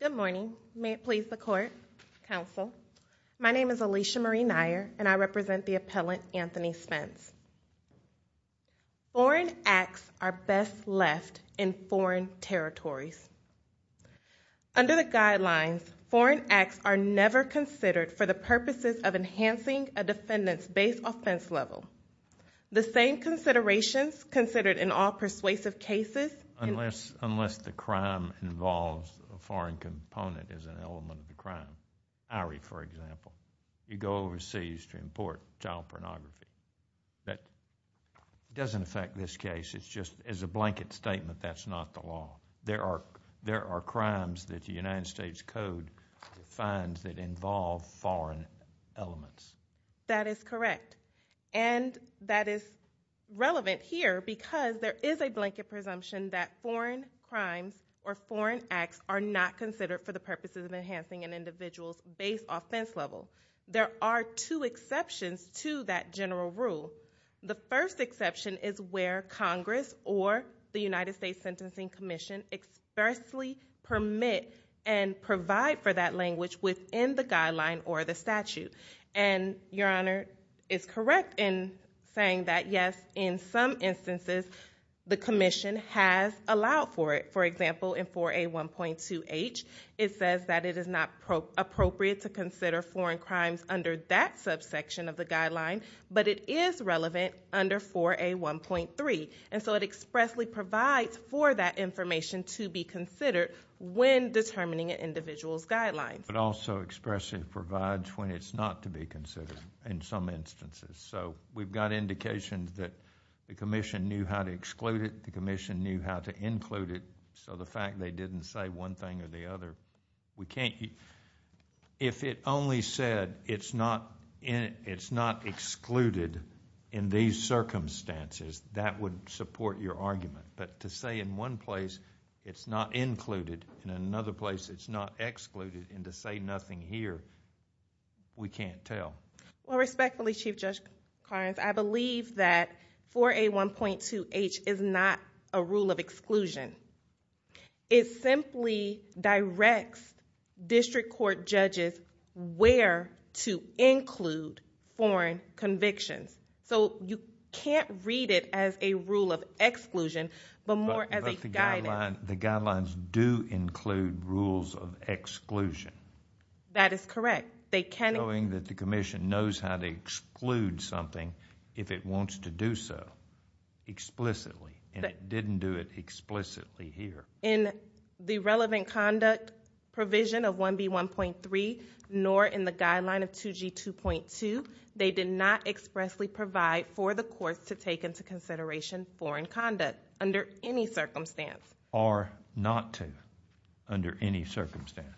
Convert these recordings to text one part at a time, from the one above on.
Good morning. May it please the court, counsel. My name is Alicia Marie Nyer and I represent the appellant Anthony Spence. Foreign acts are best left in foreign territories. Under the guidelines, foreign acts are never considered for the purposes of enhancing a defendant's base offense level. The same considerations considered in all persuasive cases Unless the crime involves a foreign component as an element of the crime, i.e., for example, you go overseas to import child pornography. That doesn't affect this case. It's just as a blanket statement that's not the law. There are crimes that the United States Code defines that involve foreign elements. That is correct. And that is relevant here because there is a blanket presumption that foreign crimes or foreign acts are not considered for the purposes of enhancing an individual's base offense level. There are two exceptions to that general rule. The first exception is where Congress or the United States Sentencing Commission expressly permit and provide for that language within the guideline or the statute. And, Your Honor, it's correct in saying that, yes, in some instances, the commission has allowed for it. For example, in 4A1.2H, it says that it is not appropriate to consider foreign crimes under that subsection of the guideline, but it is relevant under 4A1.3. And so it expressly provides for that information to be considered when determining an individual's guidelines. But also expressly provides when it's not to be considered in some instances. So we've got indications that the commission knew how to exclude it. The commission knew how to include it. So the fact they didn't say one thing or the other, we can't. If it only said it's not excluded in these circumstances, that would support your argument. But to say in one place it's not included and in another place it's not excluded and to say nothing here, we can't tell. Well, respectfully, Chief Judge Carnes, I believe that 4A1.2H is not a rule of exclusion. It simply directs district court judges where to include foreign convictions. So you can't read it as a rule of exclusion, but more as a guidance. But the guidelines do include rules of exclusion. That is correct. They can. Knowing that the commission knows how to exclude something if it wants to do so explicitly. And it didn't do it explicitly here. In the relevant conduct provision of 1B1.3, nor in the guideline of 2G2.2, they did not expressly provide for the courts to take into consideration foreign conduct under any circumstance. Or not to under any circumstance.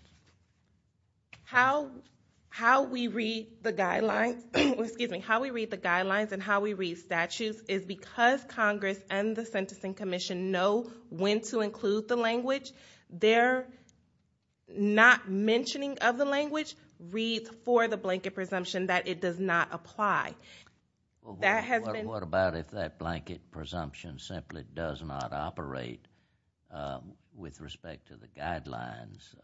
How we read the guidelines and how we read statutes is because Congress and the Sentencing Commission know when to include the language. Their not mentioning of the language reads for the blanket presumption that it does not apply. What about if that blanket presumption simply does not operate with respect to the guidelines?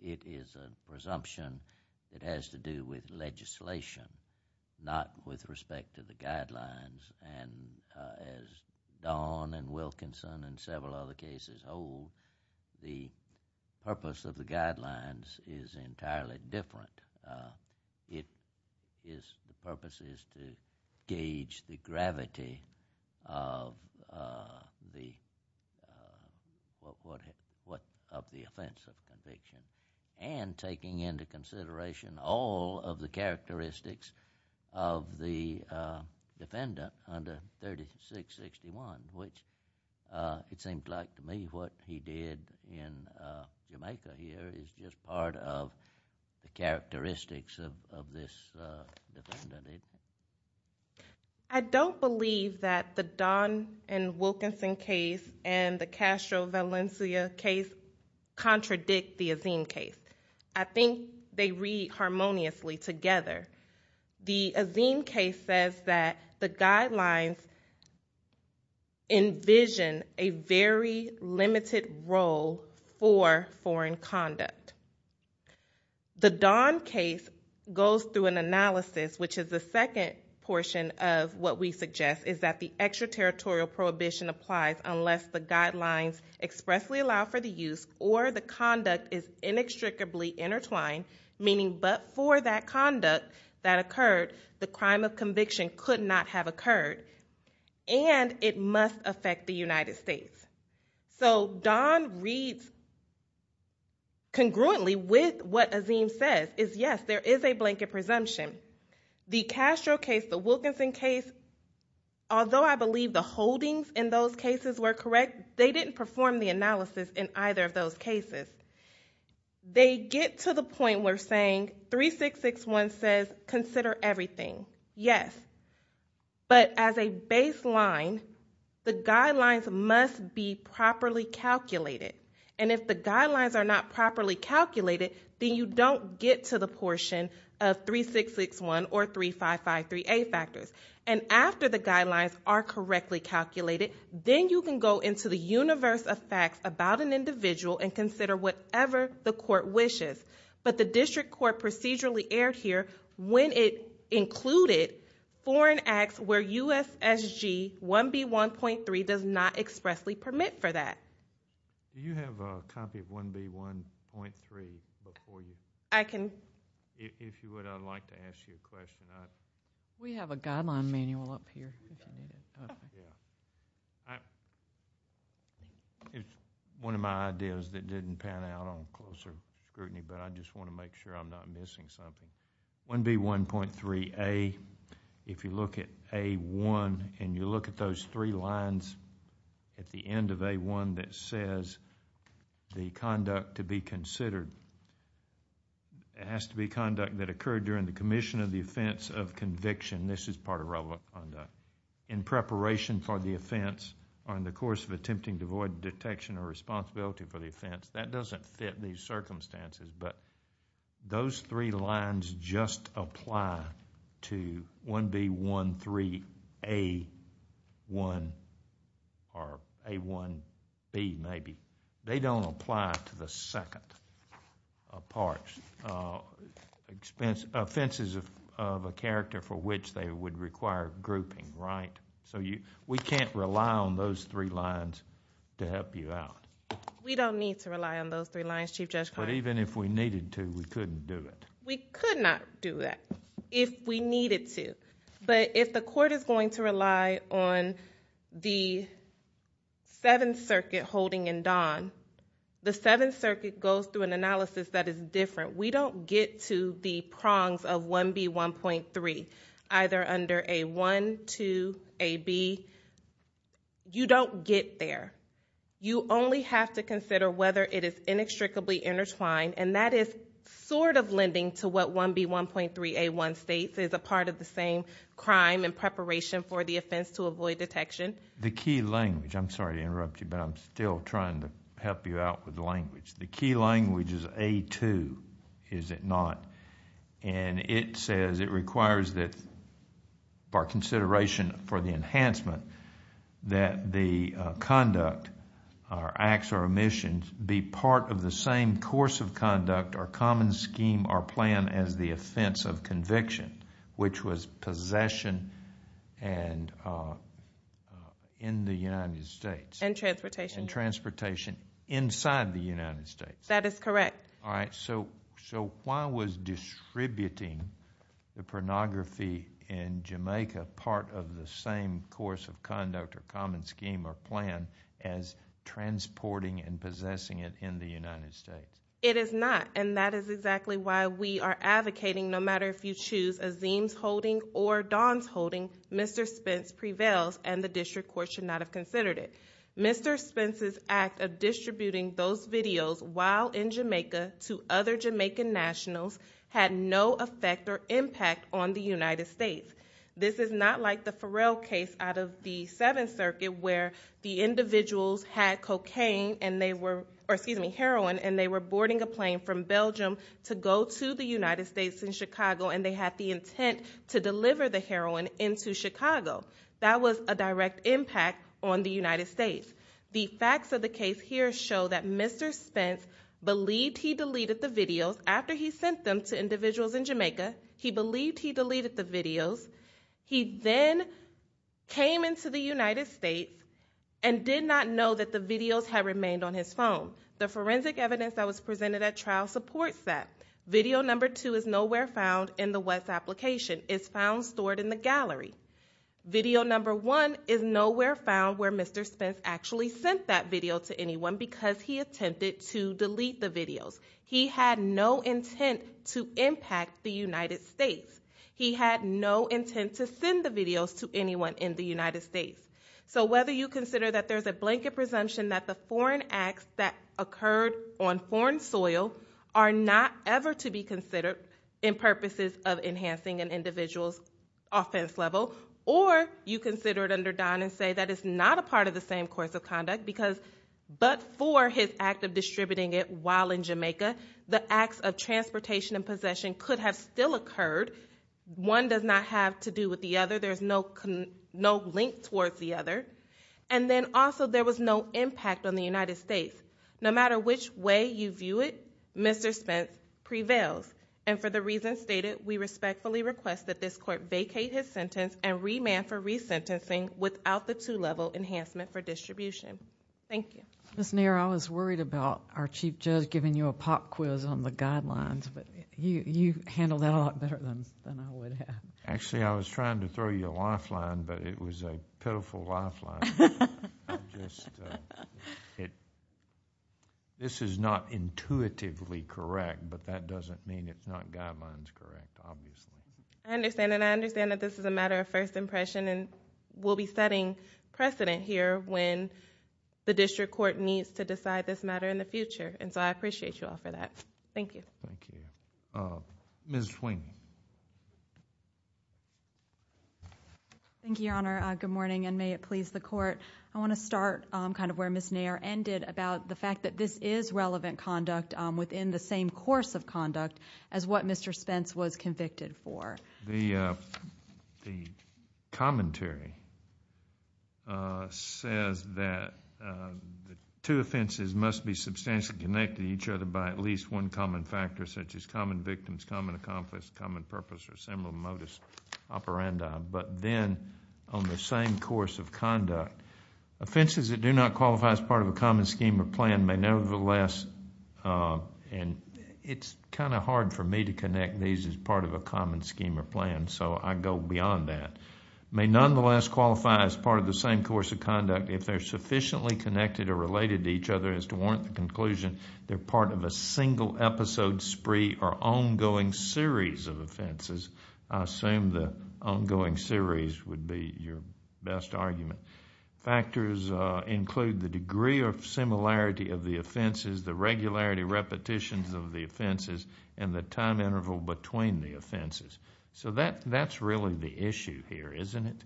It is a presumption that has to do with legislation, not with respect to the guidelines. And as Don and Wilkinson and several other cases hold, the purpose of the guidelines is entirely different. The purpose is to gauge the gravity of the offense of conviction. And taking into consideration all of the characteristics of the defendant under 3661. Which it seems like to me what he did in Jamaica here is just part of the characteristics of this defendant. I don't believe that the Don and Wilkinson case and the Castro Valencia case contradict the Azeem case. I think they read harmoniously together. The Azeem case says that the guidelines envision a very limited role for foreign conduct. The Don case goes through an analysis which is the second portion of what we suggest. Is that the extraterritorial prohibition applies unless the guidelines expressly allow for the use or the conduct is inextricably intertwined. Meaning but for that conduct that occurred, the crime of conviction could not have occurred. And it must affect the United States. So Don reads congruently with what Azeem says is yes, there is a blanket presumption. The Castro case, the Wilkinson case, although I believe the holdings in those cases were correct, they didn't perform the analysis in either of those cases. They get to the point where saying 3661 says consider everything, yes. But as a baseline, the guidelines must be properly calculated. And if the guidelines are not properly calculated, then you don't get to the portion of 3661 or 3553A factors. And after the guidelines are correctly calculated, then you can go into the universe of facts about an individual and consider whatever the court wishes. But the district court procedurally erred here when it included foreign acts where USSG 1B1.3 does not expressly permit for that. Do you have a copy of 1B1.3 before you? I can. If you would, I'd like to ask you a question. We have a guideline manual up here if you need it. It's one of my ideas that didn't pan out on closer scrutiny, but I just want to make sure I'm not missing something. 1B1.3A, if you look at A1 and you look at those three lines at the end of A1 that says the conduct to be considered, it has to be conduct that occurred during the commission of the offense of conviction. This is part of relevant conduct. In preparation for the offense or in the course of attempting to avoid detection or responsibility for the offense, that doesn't fit these circumstances. But those three lines just apply to 1B1.3A1 or A1B maybe. They don't apply to the second of parts. Offenses of a character for which they would require grouping. We can't rely on those three lines to help you out. We don't need to rely on those three lines, Chief Judge Carter. But even if we needed to, we couldn't do it. We could not do that if we needed to. But if the court is going to rely on the Seventh Circuit holding in Don, the Seventh Circuit goes through an analysis that is different. We don't get to the prongs of 1B1.3 either under A1, 2, AB. You don't get there. You only have to consider whether it is inextricably intertwined, and that is sort of lending to what 1B1.3A1 states as a part of the same crime in preparation for the offense to avoid detection. The key language, I'm sorry to interrupt you, but I'm still trying to help you out with language. The key language is A2, is it not? And it says it requires that for consideration for the enhancement that the conduct or acts or omissions be part of the same course of conduct or common scheme or plan as the offense of conviction, which was possession in the United States. And transportation. And transportation inside the United States. That is correct. All right, so why was distributing the pornography in Jamaica part of the same course of conduct or common scheme or plan as transporting and possessing it in the United States? It is not, and that is exactly why we are advocating, no matter if you choose Azeem's holding or Don's holding, Mr. Spence prevails and the district court should not have considered it. Mr. Spence's act of distributing those videos while in Jamaica to other Jamaican nationals had no effect or impact on the United States. This is not like the Farrell case out of the Seventh Circuit where the individuals had cocaine and they were, or excuse me, heroin, and they were boarding a plane from Belgium to go to the United States in Chicago and they had the intent to deliver the heroin into Chicago. That was a direct impact on the United States. The facts of the case here show that Mr. Spence believed he deleted the videos after he sent them to individuals in Jamaica. He believed he deleted the videos. He then came into the United States and did not know that the videos had remained on his phone. The forensic evidence that was presented at trial supports that. Video number two is nowhere found in the West application. It's found stored in the gallery. Video number one is nowhere found where Mr. Spence actually sent that video to anyone because he attempted to delete the videos. He had no intent to impact the United States. He had no intent to send the videos to anyone in the United States. So whether you consider that there's a blanket presumption that the foreign acts that occurred on foreign soil are not ever to be considered in purposes of enhancing an individual's offense level or you consider it under Don and say that it's not a part of the same course of conduct because but for his act of distributing it while in Jamaica, the acts of transportation and possession could have still occurred. One does not have to do with the other. There's no link towards the other. And then also there was no impact on the United States. No matter which way you view it, Mr. Spence prevails. And for the reasons stated, we respectfully request that this court vacate his sentence and remand for resentencing without the two-level enhancement for distribution. Thank you. Ms. Nair, I was worried about our chief judge giving you a pop quiz on the guidelines, but you handled that a lot better than I would have. Actually, I was trying to throw you a lifeline, but it was a pitiful lifeline. I'm just, this is not intuitively correct, but that doesn't mean it's not guidelines correct, obviously. I understand that. I understand that this is a matter of first impression and we'll be setting precedent here when the district court needs to decide this matter in the future. And so I appreciate you all for that. Thank you. Thank you. Ms. Swing. Thank you, Your Honor. Good morning, and may it please the court. I want to start kind of where Ms. Nair ended about the fact that this is relevant conduct within the same course of conduct as what Mr. Spence was convicted for. The commentary says that the two offenses must be substantially connected to each other by at least one common factor such as common victims, common accomplice, common purpose, or similar modus operandi. But then on the same course of conduct, offenses that do not qualify as part of a common scheme or plan may nevertheless, and it's kind of hard for me to connect these as part of a common scheme or plan, so I go beyond that, may nonetheless qualify as part of the same course of conduct if they're sufficiently connected or related to each other as to warrant the conclusion they're part of a single episode, spree, or ongoing series of offenses. I assume the ongoing series would be your best argument. Factors include the degree of similarity of the offenses, the regularity repetitions of the offenses, and the time interval between the offenses. So that's really the issue here, isn't it?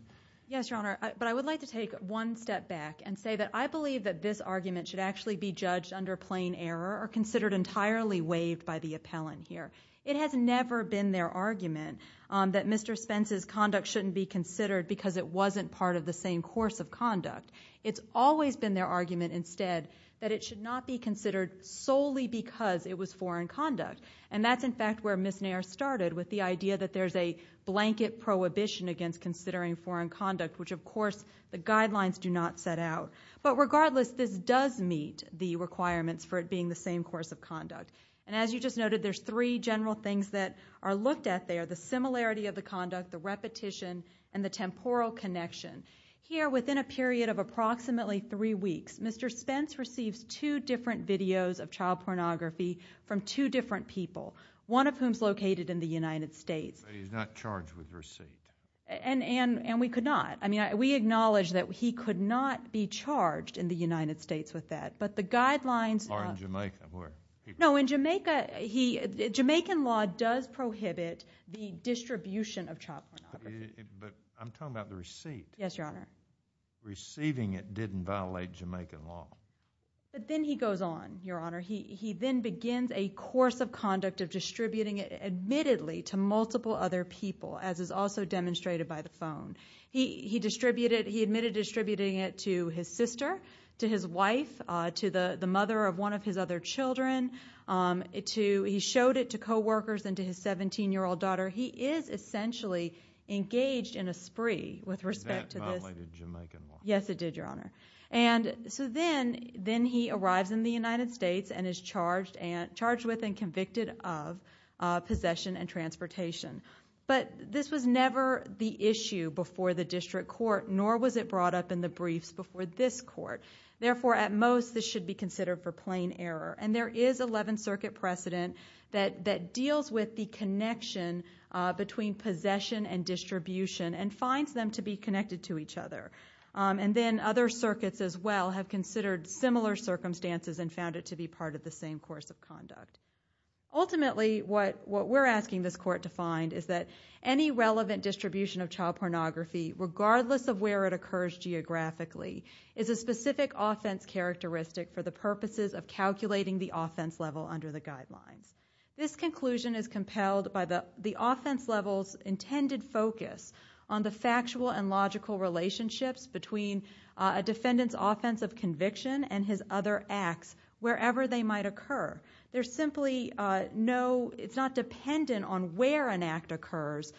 Yes, Your Honor, but I would like to take one step back and say that I believe that this argument should actually be judged under plain error or considered entirely waived by the appellant here. It has never been their argument that Mr. Spence's conduct shouldn't be considered because it wasn't part of the same course of conduct. It's always been their argument instead that it should not be considered solely because it was foreign conduct. And that's, in fact, where Ms. Nair started with the idea that there's a blanket prohibition against considering foreign conduct, which, of course, the guidelines do not set out. But regardless, this does meet the requirements for it being the same course of conduct. And as you just noted, there's three general things that are looked at there, the similarity of the conduct, the repetition, and the temporal connection. Here, within a period of approximately three weeks, Mr. Spence receives two different videos of child pornography from two different people, one of whom's located in the United States. But he's not charged with receipt. And we could not. I mean, we acknowledge that he could not be charged in the United States with that. Or in Jamaica, where? No, in Jamaica. Jamaican law does prohibit the distribution of child pornography. But I'm talking about the receipt. Yes, Your Honor. Receiving it didn't violate Jamaican law. But then he goes on, Your Honor. He then begins a course of conduct of distributing it admittedly to multiple other people, as is also demonstrated by the phone. He admitted distributing it to his sister, to his wife, to the mother of one of his other children. He showed it to coworkers and to his 17-year-old daughter. He is essentially engaged in a spree with respect to this. Did that violate Jamaican law? Yes, it did, Your Honor. And so then he arrives in the United States and is charged with and convicted of possession and transportation. But this was never the issue before the district court, nor was it brought up in the briefs before this court. Therefore, at most, this should be considered for plain error. And there is 11th Circuit precedent that deals with the connection between possession and distribution and finds them to be connected to each other. And then other circuits as well have considered similar circumstances and found it to be part of the same course of conduct. Ultimately, what we're asking this court to find is that any relevant distribution of child pornography, regardless of where it occurs geographically, is a specific offense characteristic for the purposes of calculating the offense level under the guidelines. This conclusion is compelled by the offense level's intended focus on the factual and logical relationships between a defendant's offense of conviction and his other acts, wherever they might occur. There's simply no—it's not dependent on where an act occurs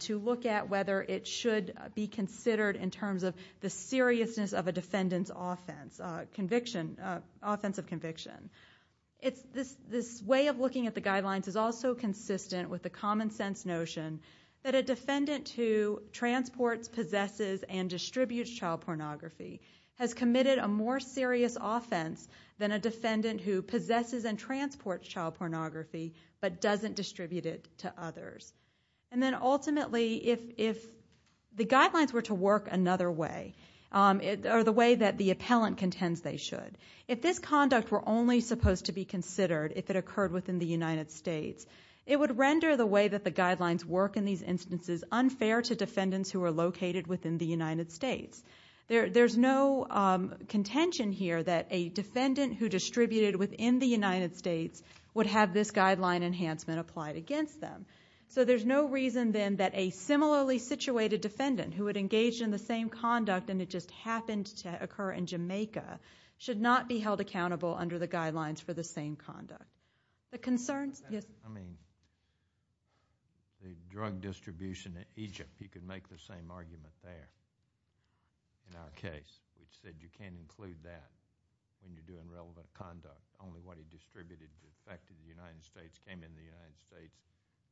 to look at whether it should be considered in terms of the seriousness of a defendant's offense of conviction. This way of looking at the guidelines is also consistent with the common sense notion that a defendant who transports, possesses, and distributes child pornography has committed a more serious offense than a defendant who possesses and transports child pornography but doesn't distribute it to others. And then ultimately, if the guidelines were to work another way, or the way that the appellant contends they should, if this conduct were only supposed to be considered if it occurred within the United States, it would render the way that the guidelines work in these instances unfair to defendants who are located within the United States. There's no contention here that a defendant who distributed within the United States would have this guideline enhancement applied against them. So there's no reason then that a similarly situated defendant who had engaged in the same conduct and it just happened to occur in Jamaica should not be held accountable under the guidelines for the same conduct. The concerns—yes? I mean, the drug distribution in Egypt, you could make the same argument there in our case, which said you can't include that when you're doing relevant conduct. Only what he distributed to the effect of the United States came in the United States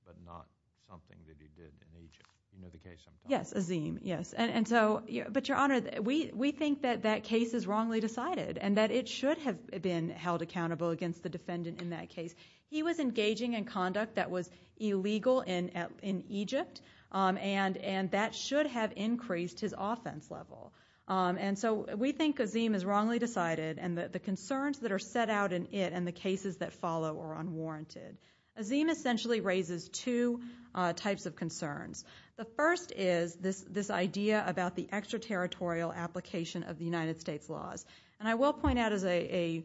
but not something that he did in Egypt. You know the case I'm talking about? Yes, Azeem, yes. But Your Honor, we think that that case is wrongly decided and that it should have been held accountable against the defendant in that case. He was engaging in conduct that was illegal in Egypt and that should have increased his offense level. And so we think Azeem is wrongly decided and that the concerns that are set out in it and the cases that follow are unwarranted. Azeem essentially raises two types of concerns. The first is this idea about the extraterritorial application of the United States laws. And I will point out as an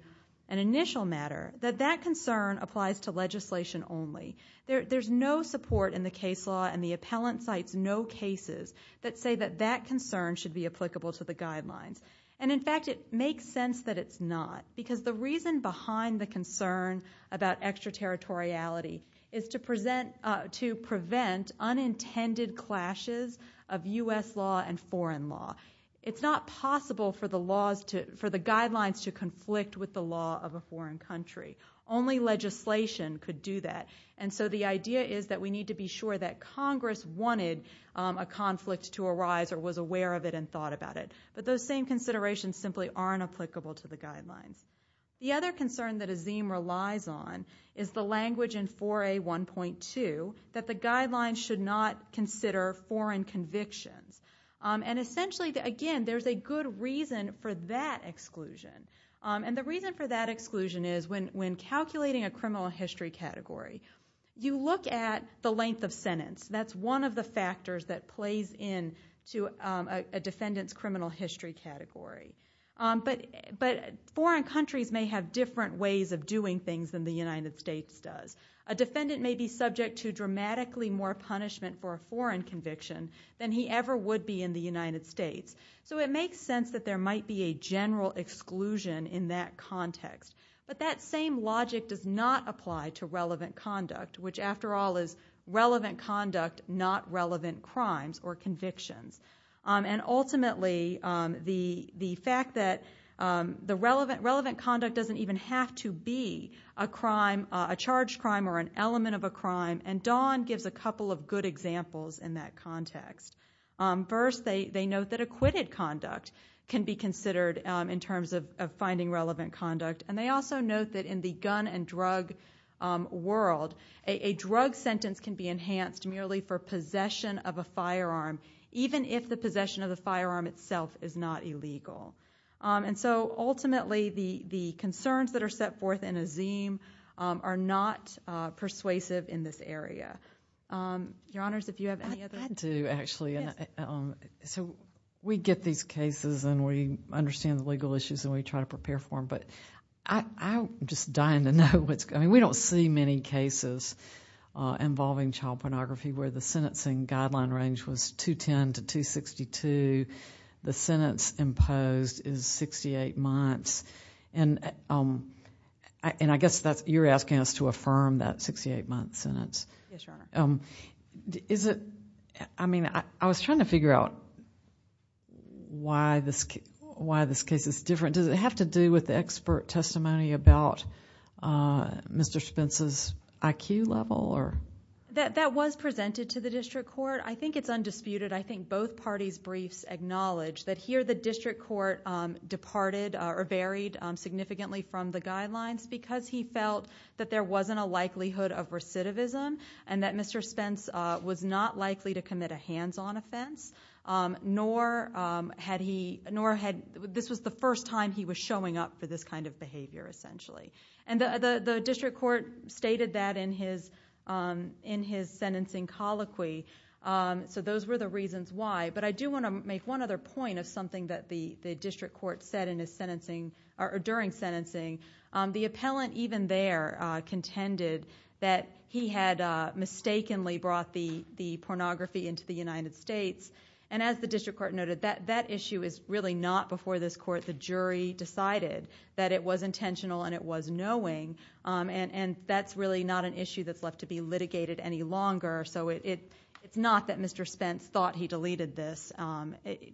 initial matter that that concern applies to legislation only. There's no support in the case law and the appellant cites no cases that say that that concern should be applicable to the guidelines. And, in fact, it makes sense that it's not because the reason behind the concern about extraterritoriality is to prevent unintended clashes of U.S. law and foreign law. It's not possible for the guidelines to conflict with the law of a foreign country. Only legislation could do that. And so the idea is that we need to be sure that Congress wanted a conflict to arise or was aware of it and thought about it. But those same considerations simply aren't applicable to the guidelines. The other concern that Azeem relies on is the language in 4A.1.2 that the guidelines should not consider foreign convictions. And essentially, again, there's a good reason for that exclusion. And the reason for that exclusion is when calculating a criminal history category, you look at the length of sentence. That's one of the factors that plays into a defendant's criminal history category. But foreign countries may have different ways of doing things than the United States does. A defendant may be subject to dramatically more punishment for a foreign conviction than he ever would be in the United States. So it makes sense that there might be a general exclusion in that context. But that same logic does not apply to relevant conduct, which, after all, is relevant conduct, not relevant crimes or convictions. And ultimately, the fact that the relevant conduct doesn't even have to be a crime, a charged crime or an element of a crime. And Dawn gives a couple of good examples in that context. First, they note that acquitted conduct can be considered in terms of finding relevant conduct. And they also note that in the gun and drug world, a drug sentence can be enhanced merely for possession of a firearm, even if the possession of the firearm itself is not illegal. And so ultimately, the concerns that are set forth in Azeem are not persuasive in this area. Your Honors, if you have any other... I do, actually. So we get these cases and we understand the legal issues and we try to prepare for them. But I'm just dying to know what's going on. We don't see many cases involving child pornography where the sentencing guideline range was 210 to 262. The sentence imposed is 68 months. And I guess you're asking us to affirm that 68-month sentence. Yes, Your Honor. I mean, I was trying to figure out why this case is different. Does it have to do with the expert testimony about Mr. Spence's IQ level? That was presented to the district court. I think it's undisputed. I think both parties' briefs acknowledge that here the district court departed or varied significantly from the guidelines because he felt that there wasn't a likelihood of recidivism and that Mr. Spence was not likely to commit a hands-on offense, nor this was the first time he was showing up for this kind of behavior, essentially. And the district court stated that in his sentencing colloquy. So those were the reasons why. But I do want to make one other point of something that the district court said in his sentencing or during sentencing. The appellant even there contended that he had mistakenly brought the pornography into the United States. And as the district court noted, that issue is really not before this court. The jury decided that it was intentional and it was knowing, and that's really not an issue that's left to be litigated any longer. So it's not that Mr. Spence thought he deleted this.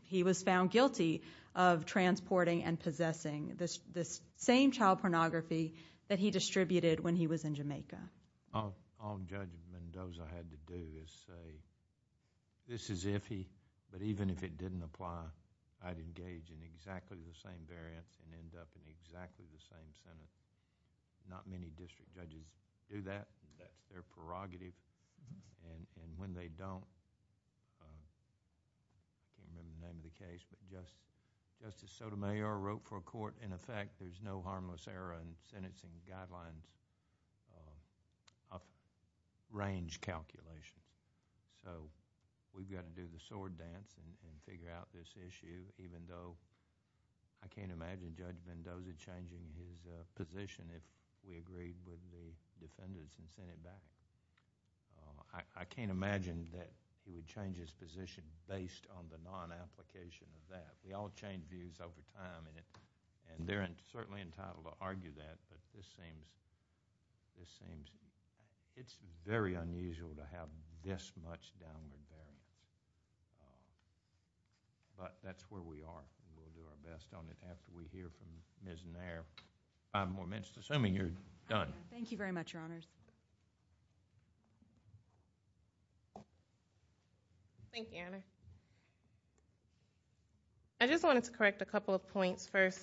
He was found guilty of transporting and possessing this same child pornography that he distributed when he was in Jamaica. All Judge Mendoza had to do is say, this is iffy, but even if it didn't apply, I'd engage in exactly the same variance and end up in exactly the same sentence. Not many district judges do that. They're prerogative. And when they don't, I can't remember the name of the case, but Justice Sotomayor wrote for a court, in effect, there's no harmless error in sentencing guidelines of range calculation. So we've got to do the sword dance and figure out this issue, even though I can't imagine Judge Mendoza changing his position if we agreed with the defendants and sent it back. I can't imagine that he would change his position based on the non-application of that. We all change views over time, and they're certainly entitled to argue that, but this seems... it's very unusual to have this much down with them. But that's where we are, and we'll do our best on it after we hear from Ms. Nair. Five more minutes, assuming you're done. Thank you very much, Your Honors. Thank you, Honor. I just wanted to correct a couple of points first.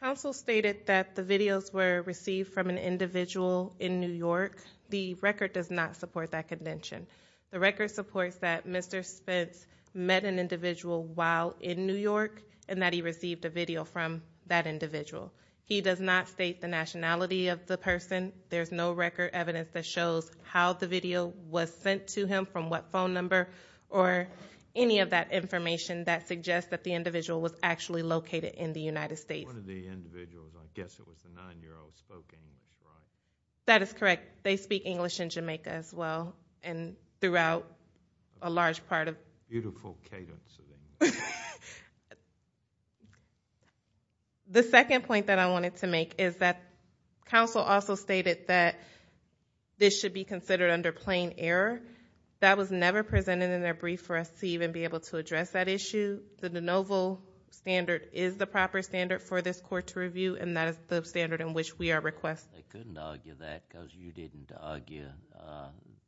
Counsel stated that the videos were received from an individual in New York. The record does not support that contention. The record supports that Mr. Spence met an individual while in New York and that he received a video from that individual. He does not state the nationality of the person. There's no record evidence that shows how the video was sent to him, from what phone number, or any of that information that suggests that the individual was actually located in the United States. One of the individuals, I guess it was the 9-year-old, spoke English, right? That is correct. They speak English in Jamaica as well, and throughout a large part of... Beautiful cadence of English. The second point that I wanted to make is that counsel also stated that this should be considered under plain error. That was never presented in their brief for us to even be able to address that issue. The de novo standard is the proper standard for this court to review, and that is the standard in which we are requesting. Yes, they couldn't argue that because you didn't argue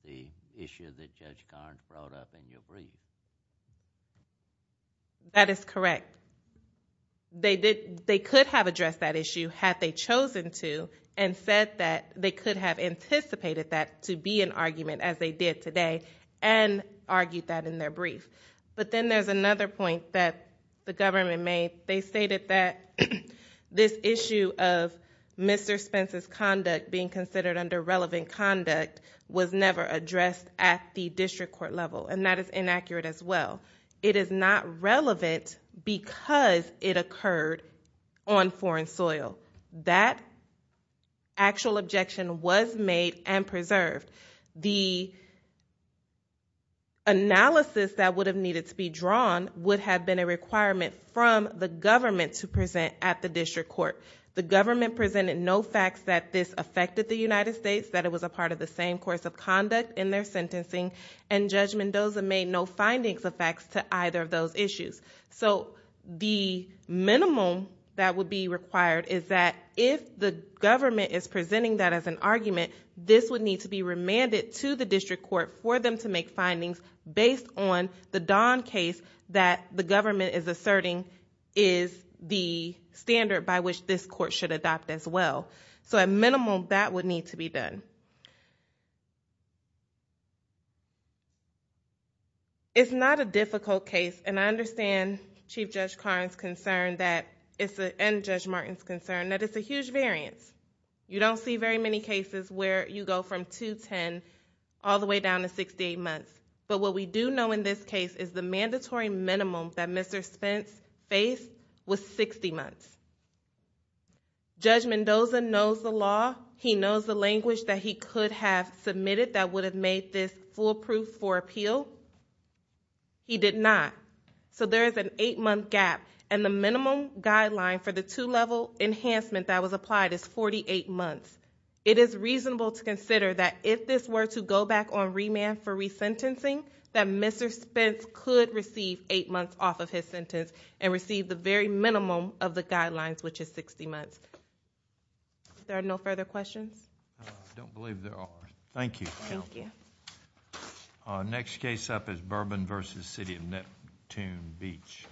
the issue that Judge Garns brought up in your brief. That is correct. They could have addressed that issue had they chosen to and said that they could have anticipated that to be an argument, as they did today, and argued that in their brief. But then there's another point that the government made. They stated that this issue of Mr. Spence's conduct being considered under relevant conduct was never addressed at the district court level, and that is inaccurate as well. It is not relevant because it occurred on foreign soil. That actual objection was made and preserved. The analysis that would have needed to be drawn would have been a requirement from the government to present at the district court. The government presented no facts that this affected the United States, that it was a part of the same course of conduct in their sentencing, and Judge Mendoza made no findings of facts to either of those issues. So the minimum that would be required is that if the government is presenting that as an argument, this would need to be remanded to the district court for them to make findings based on the Don case that the government is asserting is the standard by which this court should adopt as well. So at minimum, that would need to be done. It's not a difficult case, and I understand Chief Judge Karn's concern and Judge Martin's concern that it's a huge variance. You don't see very many cases where you go from 210 all the way down to 68 months. But what we do know in this case is the mandatory minimum that Mr. Spence faced was 60 months. Judge Mendoza knows the law. He knows the language that he could have submitted that would have made this foolproof for appeal. He did not. So there is an eight-month gap, and the minimum guideline for the two-level enhancement that was applied is 48 months. It is reasonable to consider that if this were to go back on remand for resentencing, that Mr. Spence could receive eight months off of his sentence and receive the very minimum of the guidelines, which is 60 months. There are no further questions? I don't believe there are. Thank you. Thank you. Our next case up is Bourbon v. City of Neptune Beach.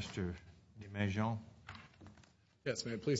Thank you.